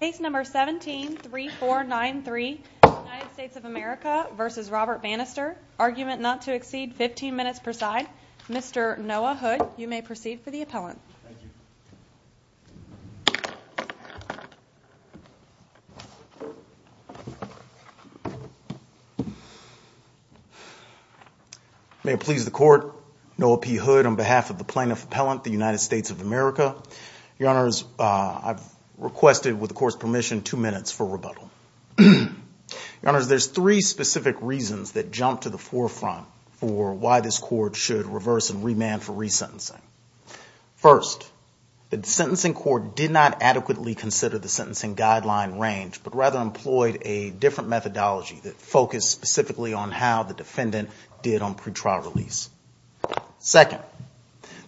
Case number 17-3493, United States of America v. Robert Bannister. Argument not to exceed 15 minutes per side. Mr. Noah Hood, you may proceed for the appellant. May it please the Court, Noah P. Hood on behalf of the plaintiff appellant, the United States of America. Your Honors, I've requested, with the Court's permission, two minutes for rebuttal. Your Honors, there's three specific reasons that jump to the forefront for why this Court should reverse and remand for resentencing. First, the sentencing Court did not adequately consider the sentencing guideline range, but rather employed a different methodology that focused specifically on how the defendant did on pretrial release. Second,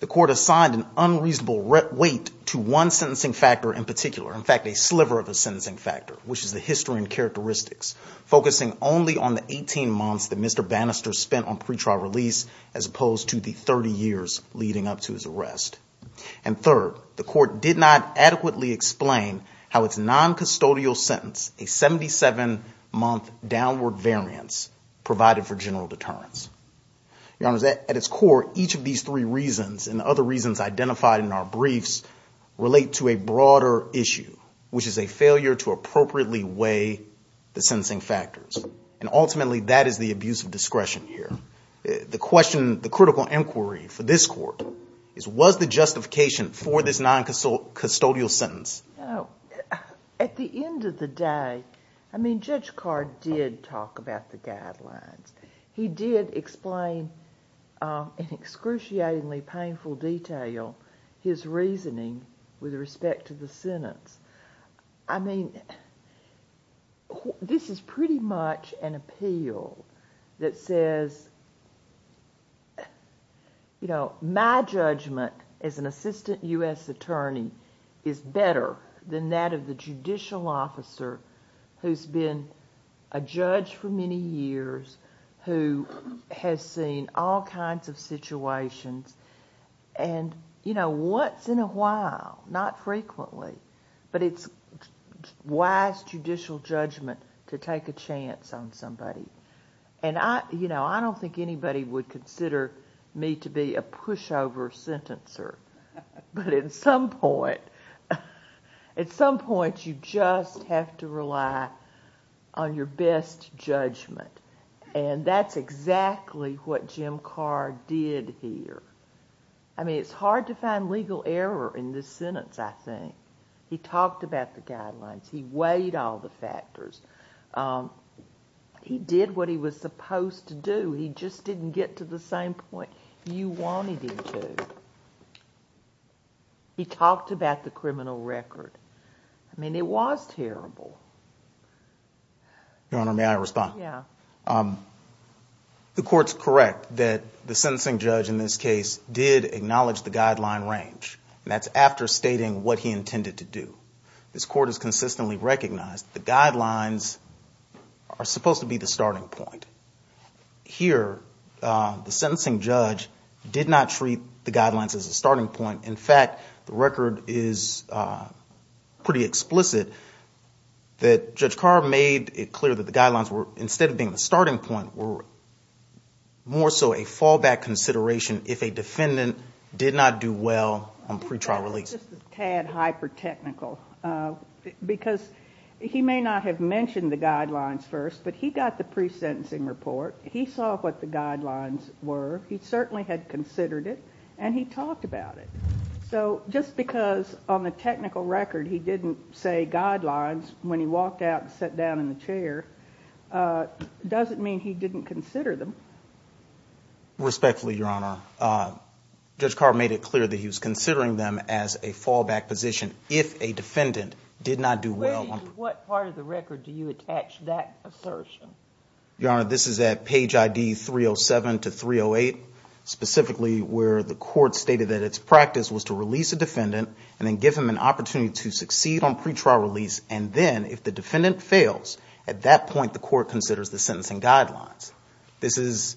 the Court assigned an unreasonable weight to one sentencing factor in particular, in fact, a sliver of a sentencing factor, which is the history and characteristics, focusing only on the 18 months that Mr. Bannister spent on pretrial release as opposed to the 30 years leading up to his arrest. And third, the Court did not adequately explain how its noncustodial sentence, a 77-month downward variance, provided for general deterrence. Your Honors, at its core, each of these three reasons, and the other reasons identified in our briefs, relate to a broader issue, which is a failure to appropriately weigh the sentencing factors. And ultimately, that is the abuse of discretion here. The question, the critical inquiry for this Court is, was the justification for this noncustodial sentence? At the end of the day, I mean, Judge Carr did talk about the guidelines. He did explain in excruciatingly painful detail his reasoning with respect to the sentence. I mean, this is pretty much an appeal that says, you know, my judgment as an assistant U.S. attorney is better than that of the judicial officer who's been a judge for many years, who has seen all kinds of situations, and, you know, what's in a while, not frequently? But it's wise judicial judgment to take a chance on somebody. And I, you know, I don't think anybody would consider me to be a pushover sentencer. But at some point, at some point, you just have to rely on your best judgment. And that's exactly what Jim Carr did here. I mean, it's hard to find legal error in this sentence, I think. He talked about the guidelines. He did what he was supposed to do. He just didn't get to the same point you wanted him to. He talked about the criminal record. I mean, it was terrible. Your Honor, may I respond? Yeah. The Court's correct that the sentencing judge in this case did acknowledge the guideline range, and that's after stating what he intended to do. This Court has consistently recognized the guidelines are supposed to be the starting point. Here, the sentencing judge did not treat the guidelines as a starting point. In fact, the record is pretty explicit that Judge Carr made it clear that the guidelines, instead of being the starting point, were more so a fallback consideration if a defendant did not do well on pretrial release. It's just a tad hyper-technical, because he may not have mentioned the guidelines first, but he got the pre-sentencing report. He saw what the guidelines were. He certainly had considered it, and he talked about it. So just because on the technical record he didn't say guidelines when he walked out and sat down in the chair doesn't mean he didn't consider them. Respectfully, Your Honor, Judge Carr made it clear that he was considering them as a fallback position if a defendant did not do well on pretrial release. What part of the record do you attach that assertion? Your Honor, this is at page ID 307 to 308, specifically where the Court stated that its practice was to release a defendant and then give him an opportunity to succeed on pretrial release, and then, if the defendant fails, at that point the Court considers the sentencing guidelines. This is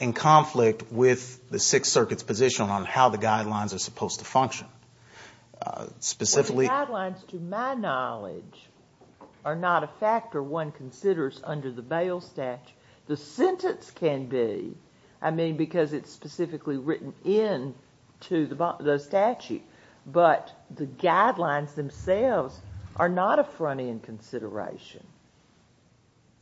in conflict with the Sixth Circuit's position on how the guidelines are supposed to function. Specifically— The guidelines, to my knowledge, are not a factor one considers under the bail statute. The sentence can be, I mean, because it's specifically written into the statute, but the guidelines themselves are not a front-end consideration.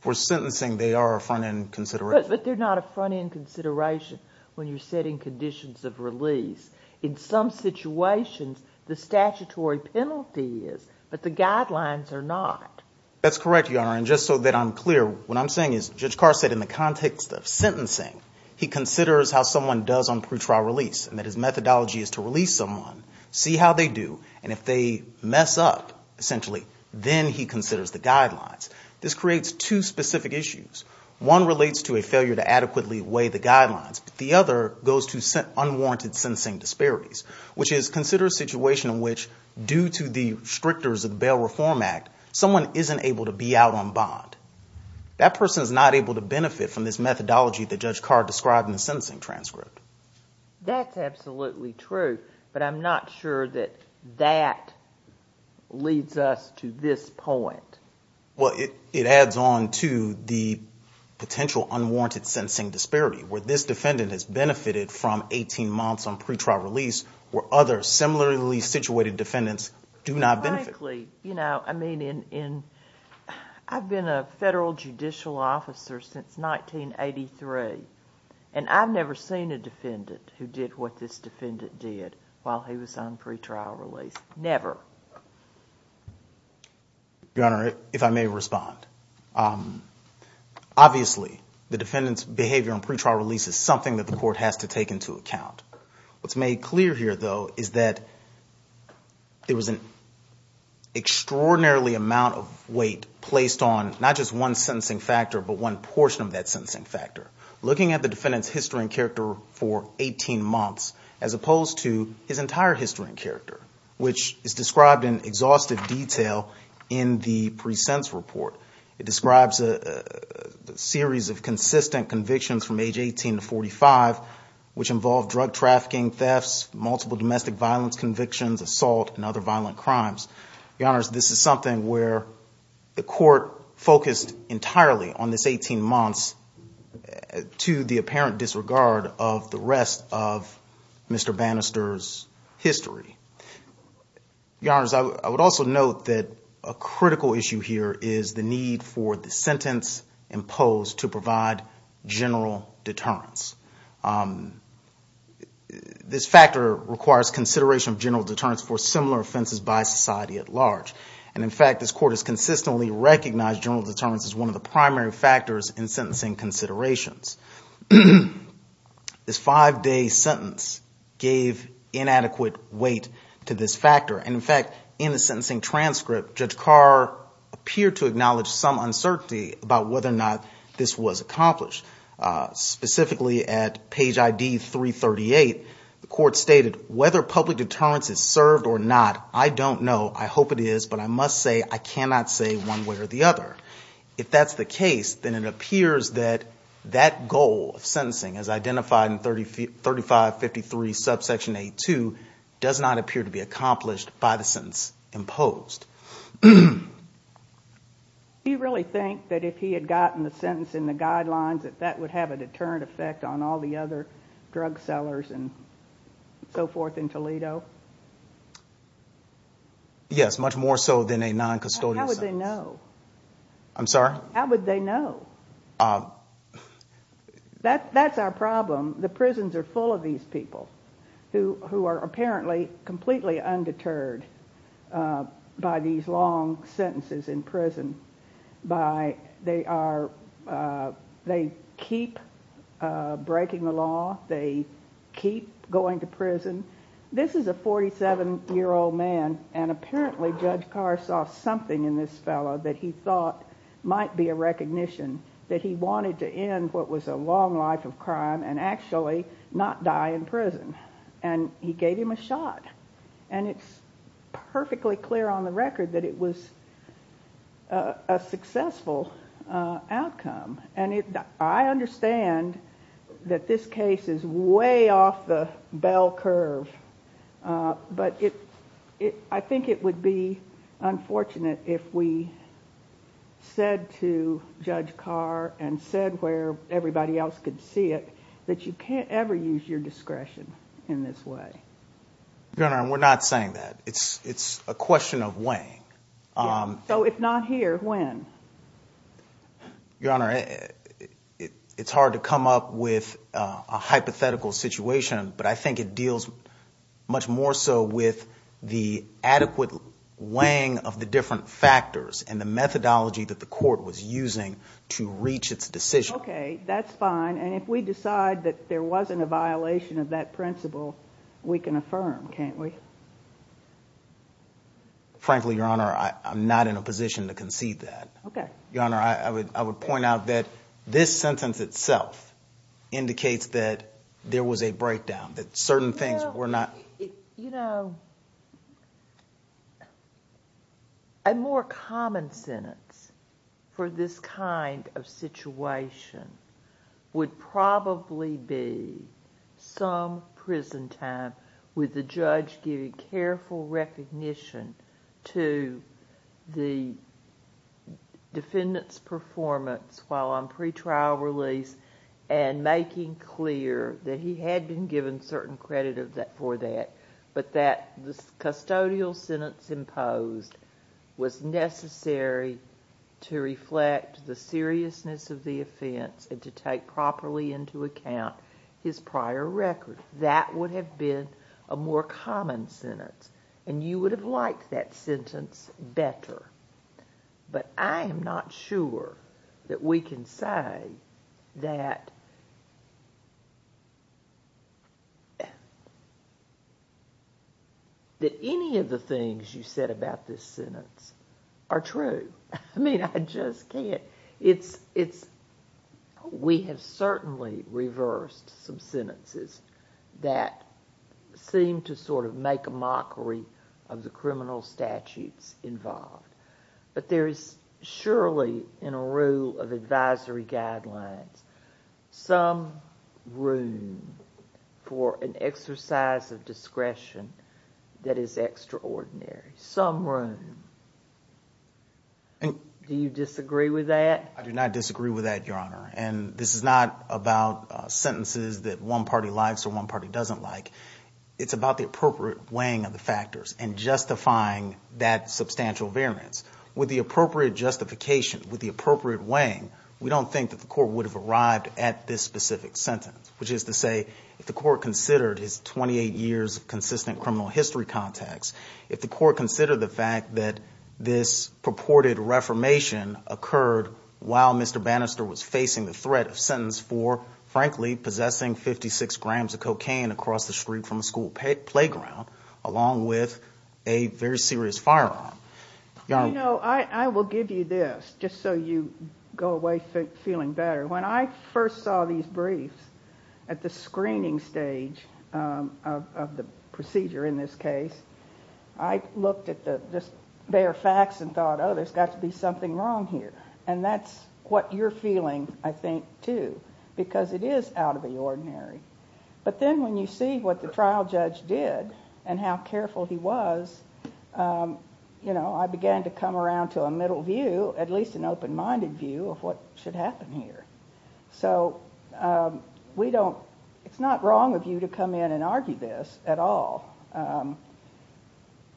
For sentencing, they are a front-end consideration. But they're not a front-end consideration when you're setting conditions of release. In some situations, the statutory penalty is, but the guidelines are not. That's correct, Your Honor, and just so that I'm clear, what I'm saying is, Judge Carr said in the context of sentencing, he considers how someone does on pretrial release and that his methodology is to release someone, see how they do, and if they mess up, essentially, then he considers the guidelines. This creates two specific issues. One relates to a failure to adequately weigh the guidelines. The other goes to unwarranted sentencing disparities, which is, consider a situation in which, due to the restrictors of the Bail Reform Act, someone isn't able to be out on bond. That person is not able to benefit from this methodology that Judge Carr described in the sentencing transcript. That's absolutely true, but I'm not sure that that leads us to this point. Well, it adds on to the potential unwarranted sentencing disparity, where this defendant has benefited from 18 months on pretrial release, where other similarly situated defendants do not benefit. Frankly, I've been a federal judicial officer since 1983, and I've never seen a defendant who did what this defendant did while he was on pretrial release. Never. Your Honor, if I may respond. Obviously, the defendant's behavior on pretrial release is something that the court has to take into account. What's made clear here, though, is that there was an extraordinarily amount of weight placed on not just one sentencing factor, but one portion of that sentencing factor. Looking at the defendant's history and character for 18 months, as opposed to his entire history and character, which is described in exhaustive detail in the pre-sense report. It describes a series of consistent convictions from age 18 to 45, which involve drug trafficking, thefts, multiple domestic violence convictions, assault, and other violent crimes. Your Honor, this is something where the court focused entirely on this 18 months to the apparent disregard of the rest of Mr. Bannister's history. Your Honor, I would also note that a critical issue here is the need for the sentence imposed to provide general deterrence. This factor requires consideration of general deterrence for similar offenses by society at large. And in fact, this court has consistently recognized general deterrence as one of the primary factors in sentencing considerations. This five-day sentence gave inadequate weight to this factor. And in fact, in the sentencing transcript, Judge Carr appeared to acknowledge some of the concerns raised by Mr. Bannister. In his testimony at page ID 338, the court stated, whether public deterrence is served or not, I don't know, I hope it is, but I must say I cannot say one way or the other. If that's the case, then it appears that that goal of sentencing as identified in 3553 subsection 8-2 does not appear to be accomplished by the sentence imposed. Do you really think that if he had gotten the sentence in the guidelines, that that would have a deterrent effect on all the other drug sellers and so forth in Toledo? Yes, much more so than a non-custodial sentence. How would they know? That's our problem. The prisons are full of these people who are apparently completely undeterred by these long sentences in prison. They keep breaking the law. They keep going to prison. This is a 47-year-old man, and apparently Judge Carr saw something in this fellow that he thought might be a recognition, that he wanted to end what was a long life of crime and actually not die in prison, and he gave him a shot. It's perfectly clear on the record that it was a successful outcome. I understand that this case is way off the bell curve, but I think it would be unfortunate if we said to Judge Carr and said where everybody else could see it, that you can't ever use your discretion in this way. Your Honor, we're not saying that. It's a question of weighing. So if not here, when? Your Honor, it's hard to come up with a hypothetical situation, but I think it deals much more so with the adequate weighing of the different factors and the methodology that the court was using to reach its decision. Okay, that's fine, and if we decide that there wasn't a violation of that principle, we can affirm, can't we? Frankly, Your Honor, I'm not in a position to concede that. Your Honor, I would point out that this sentence itself indicates that there was a breakdown, that certain things were not... A more common sentence for this kind of situation would probably be some prison time with the judge giving careful recognition to the defendant's performance while on pre-trial release and making clear that he had been given certain credit for that but that the custodial sentence imposed was necessary to reflect the seriousness of the offense and to take properly into account his prior record. That would have been a more common sentence, and you would have liked that sentence better. But I am not sure that we can say that... that any of the things you said about this sentence are true. I mean, I just can't. We have certainly reversed some sentences that seem to sort of make a mockery of the criminal statutes involved. But there is surely, in a rule of advisory guidelines, some room for an exercise of discretion that is extraordinary. Some room. Do you disagree with that? I do not disagree with that, Your Honor. And this is not about sentences that one party likes or one party doesn't like. It's about the appropriate weighing of the factors and justifying that substantial variance. With the appropriate justification, with the appropriate weighing, we don't think that the court would have arrived at this specific sentence, which is to say, if the court considered his 28 years of consistent criminal history context, if the court considered the fact that this purported reformation occurred while Mr. Bannister was facing the threat of sentence for, frankly, possessing 56 grams of cocaine across the street from a school playground, along with a very serious firearm. You know, I will give you this, just so you go away feeling better. When I first saw these briefs at the screening stage of the procedure in this case, I looked at the bare facts and thought, oh, there's got to be something wrong here. And that's what you're feeling, I think, too, because it is out of the ordinary. But then when you see what the trial judge did and how careful he was, you know, I began to come around to a middle view, at least an open-minded view, of what should happen here. It's not wrong of you to come in and argue this at all.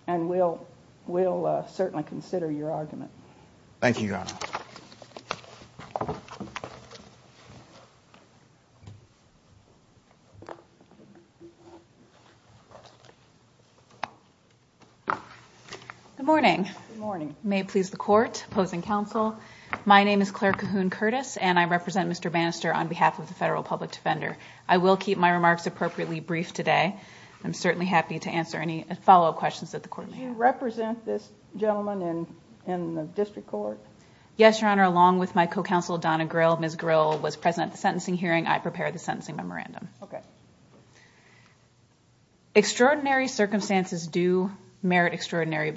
And we'll certainly consider your argument. Thank you, Your Honor. Good morning. Good morning. My name is Claire Cahoon Curtis, and I represent Mr. Bannister on behalf of the Federal Public Defender. I will keep my remarks appropriately brief today. I'm certainly happy to answer any follow-up questions that the Court may have. Do you represent this gentleman in the District Court? Yes, Your Honor, along with my co-counsel Donna Grille. Ms. Grille was present at the sentencing hearing. I prepared the sentencing memorandum. Extraordinary circumstances do merit extraordinary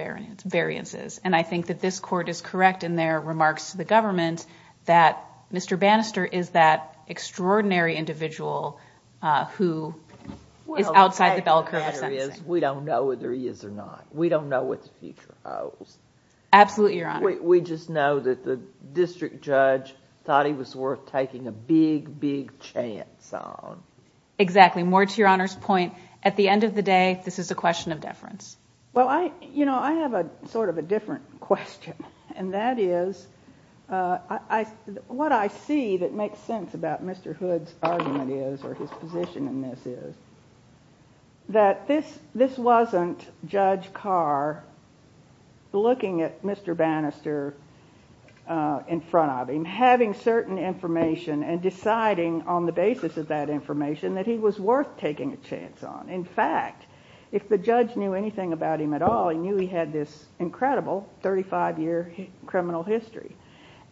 variances, and I think that this Court is correct in their remarks to the government that Mr. Bannister is that extraordinary individual who is outside the bell curve of sentencing. We don't know whether he is or not. We don't know what the future holds. Absolutely, Your Honor. We just know that the district judge thought he was worth taking a big, big chance on. Exactly. More to Your Honor's point, at the end of the day, this is a question of deference. Well, you know, I have sort of a different question, and that is what I see that makes sense about Mr. Hood's argument is, or his position in this is, that this wasn't Judge Carr looking at Mr. Bannister in front of him, having certain information, and deciding on the basis of that information that he was worth taking a chance on. In fact, if the judge knew anything about him at all, he knew he had this incredible 35-year criminal history.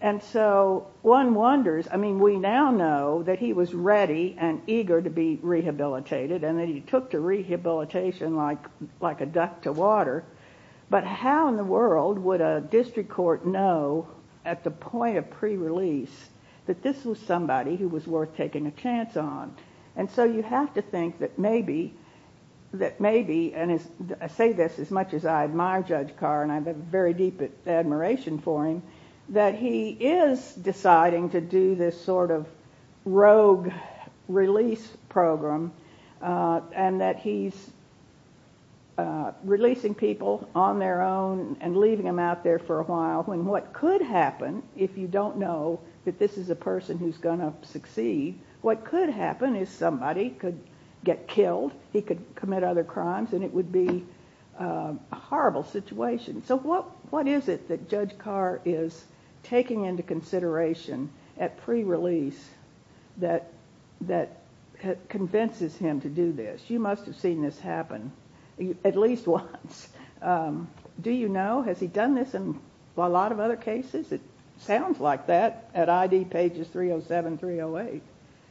One wonders, I mean, we now know that he was ready and eager to be rehabilitated, and that he took to rehabilitation like a duck to water, but how in the world would a district court know at the point of pre-release that this was somebody who was worth taking a chance on? And so you have to think that maybe, and I say this as much as I admire Judge Carr, and I have a very deep admiration for him, that he is deciding to do this sort of rogue release program, and that he's releasing people on their own and leaving them out there for a while, when what could happen, if you don't know that this is a person who's going to succeed, what could happen is somebody could get killed, he could commit other crimes, and it would be a horrible situation. So what is it that Judge Carr is taking into consideration at pre-release that convinces him to do this? You must have seen this happen at least once. Do you know, has he done this in a lot of other cases? It sounds like that at ID pages 307, 308.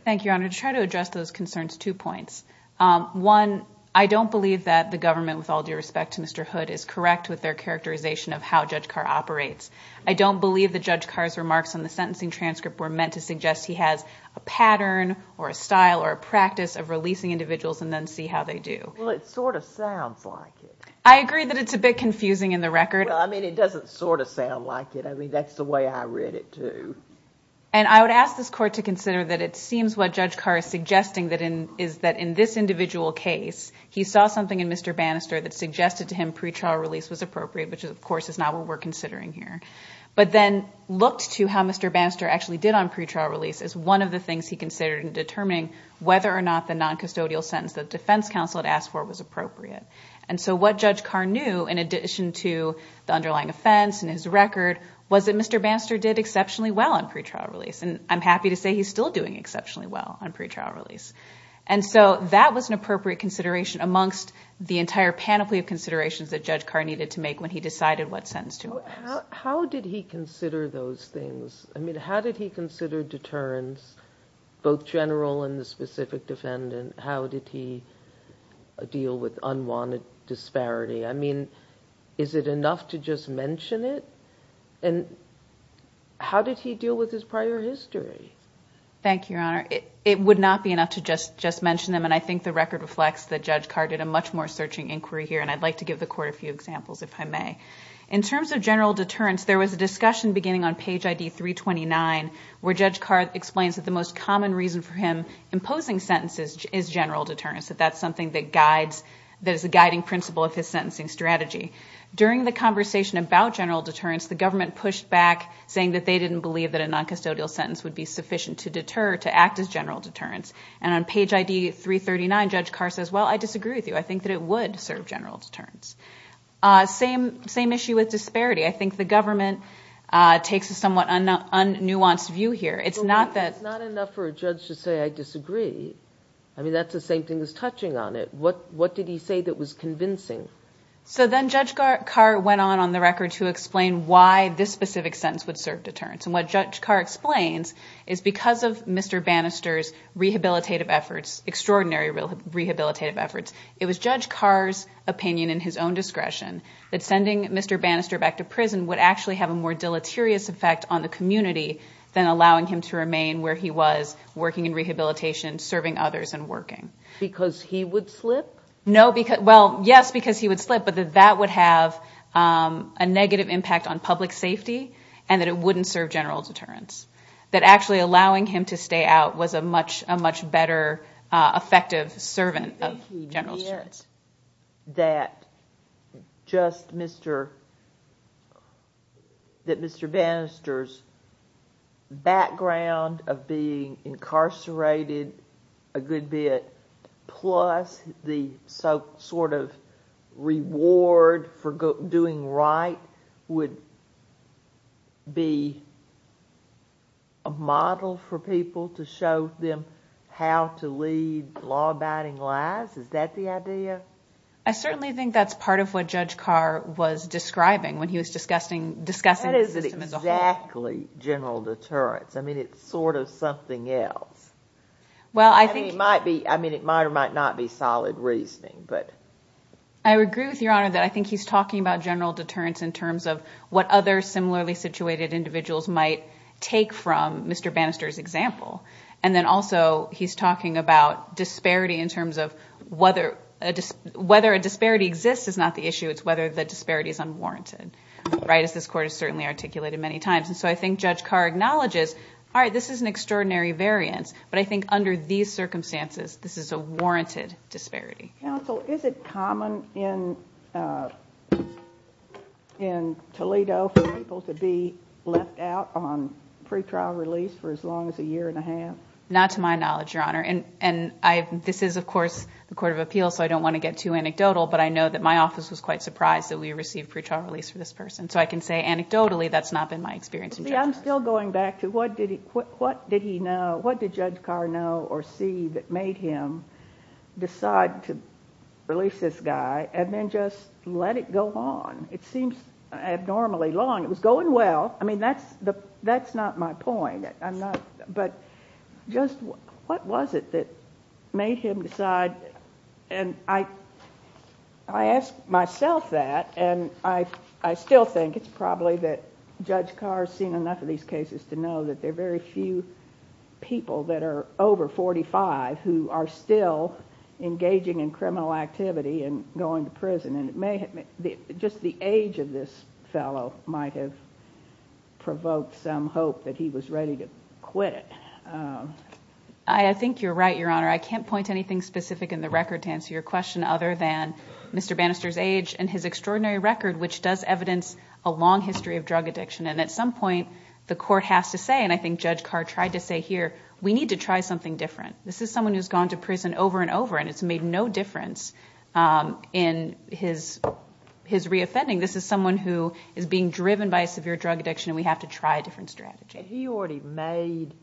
Thank you, Your Honor. To try to address those concerns, two points. One, I don't believe that the government, with all due respect to Mr. Hood, is correct with their transcript, were meant to suggest he has a pattern or a style or a practice of releasing individuals and then see how they do. Well, it sort of sounds like it. I agree that it's a bit confusing in the record. Well, I mean, it doesn't sort of sound like it. I mean, that's the way I read it, too. And I would ask this Court to consider that it seems what Judge Carr is suggesting is that in this individual case, he saw something in Mr. Bannister that suggested to him pre-trial release was appropriate, which of course is not what we're considering here, but then looked to how Mr. Bannister actually did on pre-trial release as one of the things he considered in determining whether or not the non-custodial sentence the defense counsel had asked for was appropriate. And so what Judge Carr knew, in addition to the underlying offense and his record, was that Mr. Bannister did exceptionally well on pre-trial release. And I'm happy to say he's still doing exceptionally well on pre-trial release. And so that was an appropriate consideration amongst the entire panoply of considerations that Judge Carr needed to make when he decided what sentence to impose. How did he consider those things? I mean, how did he consider deterrence, both general and the specific defendant? How did he deal with unwanted disparity? I mean, is it enough to just mention it? And how did he deal with his prior history? Thank you, Your Honor. It would not be enough to just mention them, and I think the record reflects that Judge Carr did a much more searching inquiry here, and I'd like to give the Court a few examples, if I may. In terms of general deterrence, there was a discussion beginning on page ID 329 where Judge Carr explains that the most common reason for him imposing sentences is general deterrence, that that's something that guides, that is a guiding principle of his sentencing strategy. During the conversation about general deterrence, the government pushed back, saying that they didn't believe that a non-custodial sentence would be sufficient to deter, to act as general deterrence. And on page ID 339, Judge Carr says, well, I disagree with you. I think that it would serve general deterrence. Same issue with disparity. I think the government takes a somewhat un-nuanced view here. It's not that It's not enough for a judge to say, I disagree. I mean, that's the same thing as touching on it. What did he say that was convincing? to explain why this specific sentence would serve deterrence. And what Judge Carr explains is because of Mr. Bannister's rehabilitative efforts, extraordinary rehabilitative efforts, it was Judge Carr's opinion in his own discretion that sending Mr. Bannister back to prison would actually have a more deleterious effect on the community than allowing him to remain where he was working in rehabilitation, serving others and working. Because he would slip? No, well, yes, because he would slip, but that that would have a negative impact on public safety and that it wouldn't serve general deterrence. That actually allowing him to stay out was a much better effective servant of general deterrence. Did he get that just Mr. Bannister's background of being incarcerated a good bit plus the sort of reward for doing right would be a model for people to show them how to lead law abiding lives? Is that the idea? I certainly think that's part of what Judge Carr was describing when he was discussing discussing that is exactly general deterrence. I mean, it's sort of something else. Well, I think it might be. I mean, it might or might not be solid reasoning, but I agree with your honor that I think he's talking about general deterrence in terms of what other similarly situated individuals might take from Mr. Bannister's example. And then also he's talking about disparity in terms of whether a disparity exists is not the issue. It's whether the disparity is unwarranted, right? As this court has certainly articulated many times. And so I think Judge Carr acknowledges, all right, this is an extraordinary variance, but I think under these circumstances, this is a warranted disparity. Counsel, is it common in Toledo for people to be left out on pretrial release for as long as a year and a half? Not to my knowledge, Your Honor. And this is, of course, the Court of Appeals, so I don't want to get too anecdotal, but I know that my office was quite surprised that we received pretrial release for this person. So I can say anecdotally that's not been my experience. I'm still going back to what did he know? What did Judge Carr know or see that made him decide to let it go on? It seems abnormally long. It was going well. That's not my point. But just what was it that made him decide? And I ask myself that, and I still think it's probably that Judge Carr's seen enough of these cases to know that there are very few people that are over 45 who are still engaging in criminal activity and going to prison. Just the age of this fellow might have provoked some hope that he was ready to quit. I think you're right, Your Honor. I can't point to anything specific in the record to answer your question other than Mr. Bannister's age and his extraordinary record, which does evidence a long history of drug addiction. And at some point, the court has to say, and I think Judge Carr tried to say here, we need to try something different. This is someone who's gone to prison over and over, and it's made no difference in his reoffending. This is someone who is being driven by a severe drug addiction, and we have to try a different strategy. Had he already made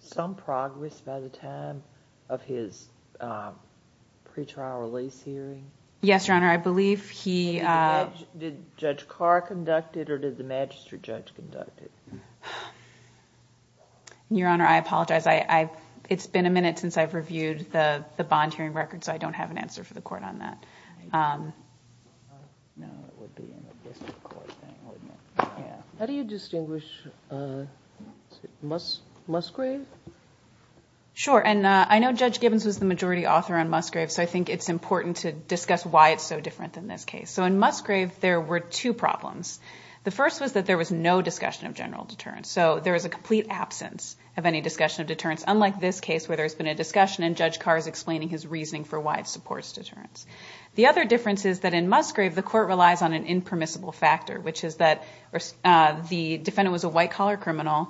some progress by the time of his pretrial release hearing? Yes, Your Honor. I believe he... Your Honor, I apologize. It's been a minute since I've reviewed the bond hearing record, so I don't have an answer for the court on that. How do you distinguish Musgrave? Sure. And I know Judge Gibbons was the majority author on Musgrave, so I think it's important to discuss why it's so different than this case. So in Musgrave, there were two problems. The first was that there was no discussion of general deterrence. So there was a complete absence of any discussion of deterrence, unlike this case where there's been a discussion, and Judge Carr is explaining his reasoning for why it supports deterrence. The other difference is that in Musgrave, the court relies on an impermissible factor, which is that the defendant was a white-collar criminal,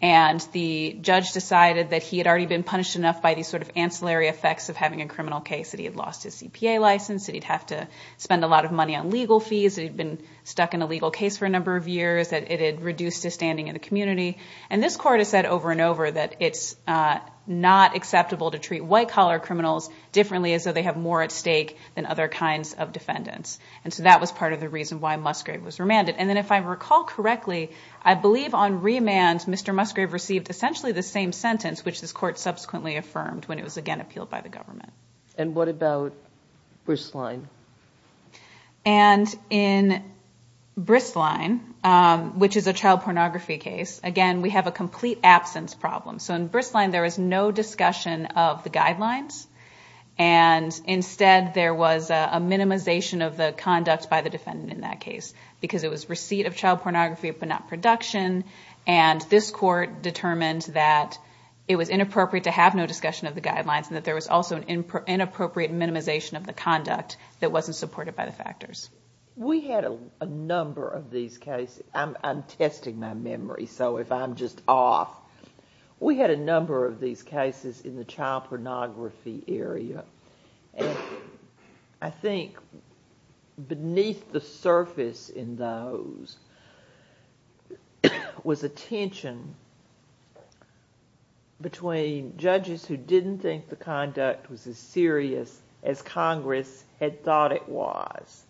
and the judge decided that he had already been punished enough by these sort of ancillary effects of having a criminal case, that he had lost his CPA license, that he'd have to spend a lot of money on legal fees, that he'd been stuck in a legal case for a number of years, that it had reduced his standing in the community. And this court has said over and over that it's not acceptable to treat white-collar criminals differently as though they have more at stake than other kinds of defendants. And so that was part of the reason why Musgrave was remanded. And then if I recall correctly, I believe on remand, Mr. Musgrave received essentially the same sentence, which this court subsequently affirmed when it was again appealed by the government. And what about Bristline? And in Bristline, which is a child pornography case, again, we have a complete absence problem. So in Bristline, there was no discussion of the guidelines, and instead there was a minimization of the conduct by the defendant in that case, because it was receipt of child pornography but not production. And this court determined that it was inappropriate to have no discussion of the guidelines and that there was also an inappropriate minimization of the conduct that wasn't supported by the factors. We had a number of these cases. I'm testing my memory, so if I'm just off. We had a number of these cases in the child pornography area. And I think beneath the surface in those was a tension between judges who didn't think the conduct was as serious as Congress had thought it was.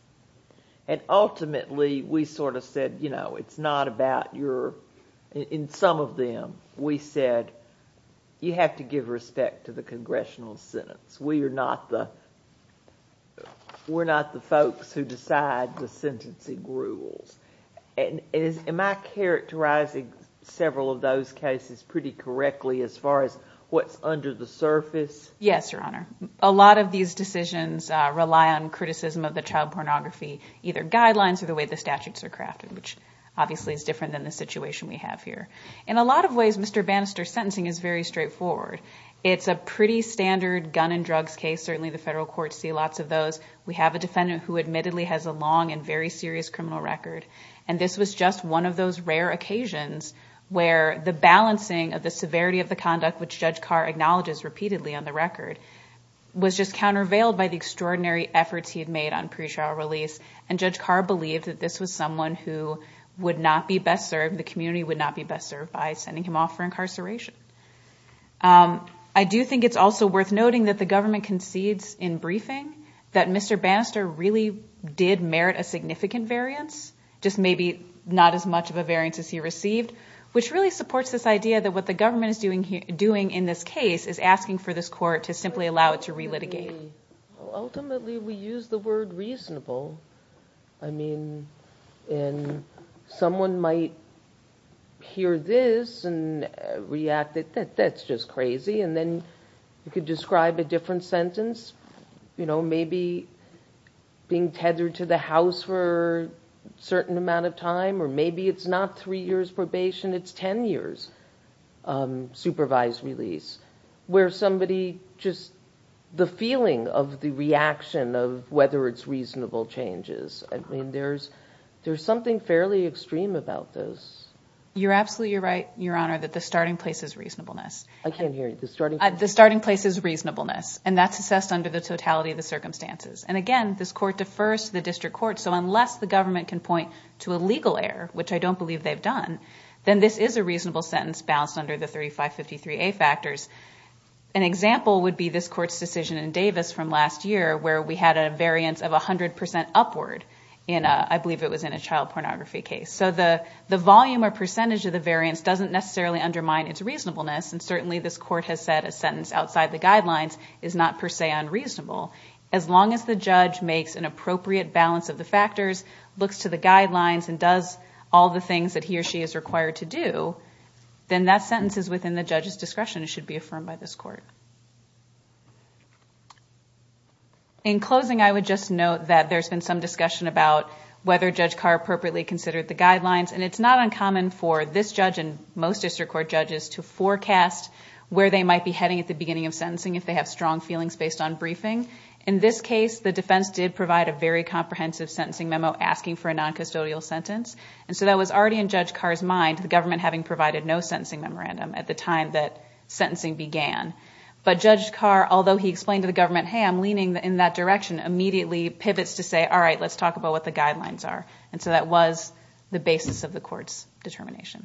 And ultimately, we sort of said, you know, it's not about your... In some of them, we said, you have to give respect to the congressional sentence. We are not the... We're not the folks who decide the sentencing rules. Am I characterizing several of those cases pretty correctly as far as what's under the surface? Yes, Your Honor. A lot of these decisions rely on criticism of the child pornography, either guidelines or the way the statutes are crafted, which obviously is different than the situation we have here. In a lot of ways, Mr. Bannister's sentencing is very straightforward. It's a pretty standard gun and drugs case. Certainly the federal courts see lots of those. We have a defendant who admittedly has a long and very serious criminal record. And this was just one of those rare occasions where the balancing of the severity of the conduct, which Judge Carr acknowledges repeatedly on the record, was just countervailed by the extraordinary efforts he had made on pre-trial release. And Judge Carr believed that this was someone who would not be best served, the community would not be best served, by sending him off for incarceration. I do think it's also worth noting that the government concedes in briefing that Mr. Bannister really did merit a significant variance, just maybe not as much of a variance as he received, which really supports this idea that what the government is doing in this case is asking for this court to simply allow it to relitigate. Ultimately, we use the word reasonable. I mean, someone might hear this and react that that's just crazy. And then you could describe a different sentence, maybe being tethered to the house for a certain amount of time, or maybe it's not three years probation, it's 10 years supervised release, where somebody just the feeling of the reaction of whether it's reasonable changes. I mean, there's something fairly extreme about this. You're absolutely right, Your Honor, that the starting place is reasonableness. I can't hear you. The starting place is reasonableness, and that's assessed under the totality of the circumstances. And again, this court defers to the district court, so unless the government can point to a legal error, which I don't believe they've done, then this is a reasonable sentence balanced under the 3553A factors. An example would be this court's decision in Davis from last year, where we had a variance of 100 percent upward in, I believe it was in a child pornography case. So the volume or percentage of the variance doesn't necessarily undermine its reasonableness, and certainly this court has said a sentence outside the guidelines is not per se unreasonable. As long as the judge makes an appropriate balance of the factors, looks to the guidelines, and does all the things that he or she is required to do, then that sentence is within the judge's discretion and should be affirmed by this court. In closing, I would just note that there's been some discussion about whether Judge Carr appropriately considered the guidelines, and it's not uncommon for this judge and most district court judges to forecast where they might be heading at the beginning of sentencing if they have strong feelings based on briefing. In this case, the defense did provide a very comprehensive sentencing memo asking for a noncustodial sentence, and so that was already in Judge Carr's mind, the government having provided no sentencing memorandum at the time that sentencing began. But Judge Carr, although he explained to the government, hey, I'm leaning in that direction, immediately pivots to say, all right, let's talk about what the guidelines are. And so that was the basis of the court's determination.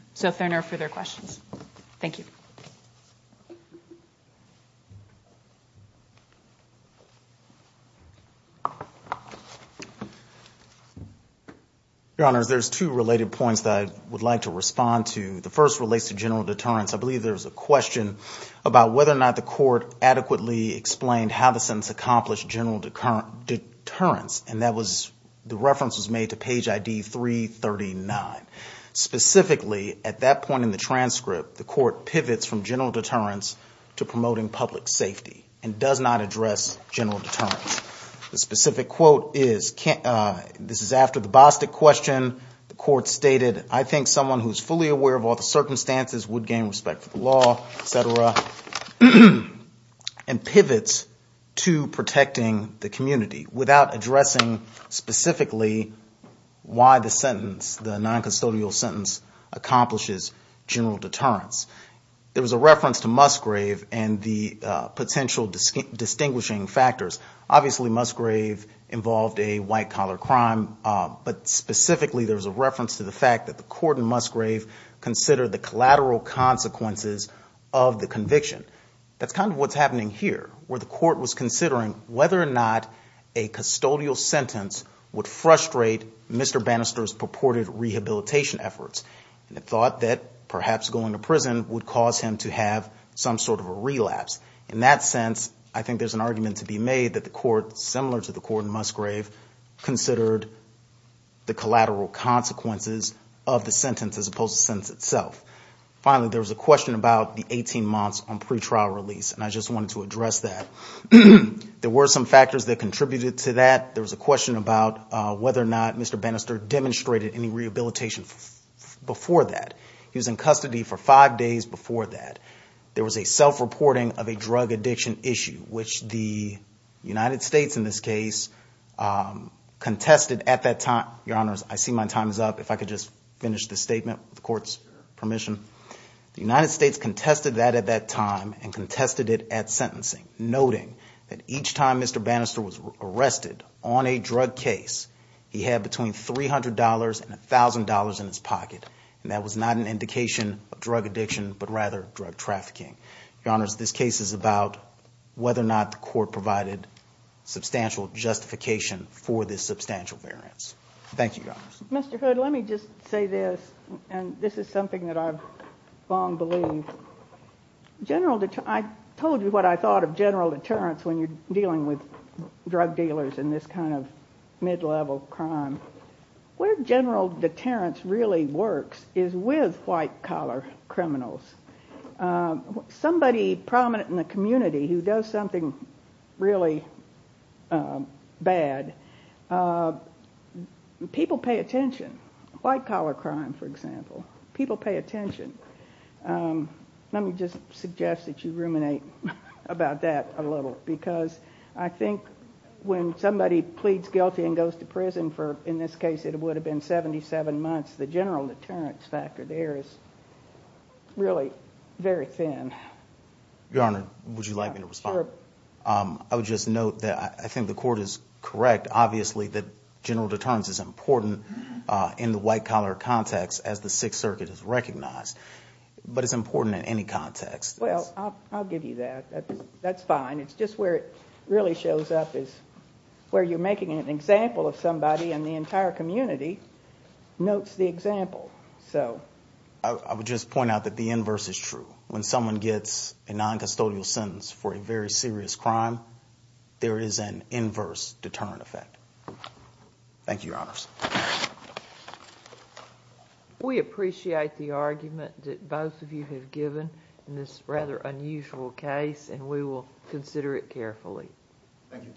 Your Honors, there's two related points that I would like to respond to. The first relates to general deterrence. I believe there was a question about whether or not the court adequately explained how the sentence accomplished general deterrence, and the reference was made to page ID 339. Specifically, at that point in the transcript, the court pivots from general deterrence to promoting public safety, and does not address general deterrence. The specific quote is, this is after the Bostic question, the court stated, I think someone who is fully aware of all the circumstances would gain respect for the law, et cetera, and pivots to protecting the community without addressing specifically why the sentence, the noncustodial sentence, accomplishes general deterrence. There was a reference to Musgrave and the potential distinguishing factors. Obviously, Musgrave involved a white-collar crime, but specifically, there was a reference to the fact that the court in Musgrave considered the collateral consequences of the conviction. That's kind of what's happening here, where the court was considering whether or not a custodial sentence would frustrate Mr. Bannister's purported rehabilitation efforts, and the thought that perhaps going to prison would cause him to have some sort of a relapse. In that sense, I think there's an argument to be made that the court, similar to the court in Musgrave, considered the collateral consequences of the sentence as opposed to the sentence itself. Finally, there was a question about the 18 months on pretrial release, and I just wanted to address that. There were some factors that contributed to that. There was a question about whether or not Mr. Bannister demonstrated any rehabilitation before that. He was in custody for five days before that. There was a self-reporting of a drug addiction issue, which the United States, in this case, contested at that time. Noting that each time Mr. Bannister was arrested on a drug case, he had between $300 and $1,000 in his pocket, and that was not an indication of drug addiction, but rather drug trafficking. Your Honors, this case is about whether or not the court provided substantial justification for this substantial variance. Thank you, Your Honors. Mr. Hood, let me just say this, and this is something that I've long believed. I told you what I thought of general deterrence when you're dealing with drug dealers in this kind of mid-level crime. Where general deterrence really works is with white-collar criminals. Somebody prominent in the community who does something really bad, people pay attention to that. White-collar crime, for example, people pay attention. Let me just suggest that you ruminate about that a little, because I think when somebody pleads guilty and goes to prison, in this case it would have been 77 months, the general deterrence factor there is really very thin. Your Honor, would you like me to respond? I would just note that I think the court is correct, obviously, that general deterrence is important in the white-collar context, as the Sixth Circuit has recognized, but it's important in any context. Well, I'll give you that. That's fine. It's just where it really shows up is where you're making an example of somebody, and the entire community notes the example. I would just point out that the inverse is true. When someone gets a noncustodial sentence for a very serious crime, there is an inverse deterrent effect. Thank you, Your Honors. We appreciate the argument that both of you have given in this rather unusual case, and we will consider it carefully. Thank you.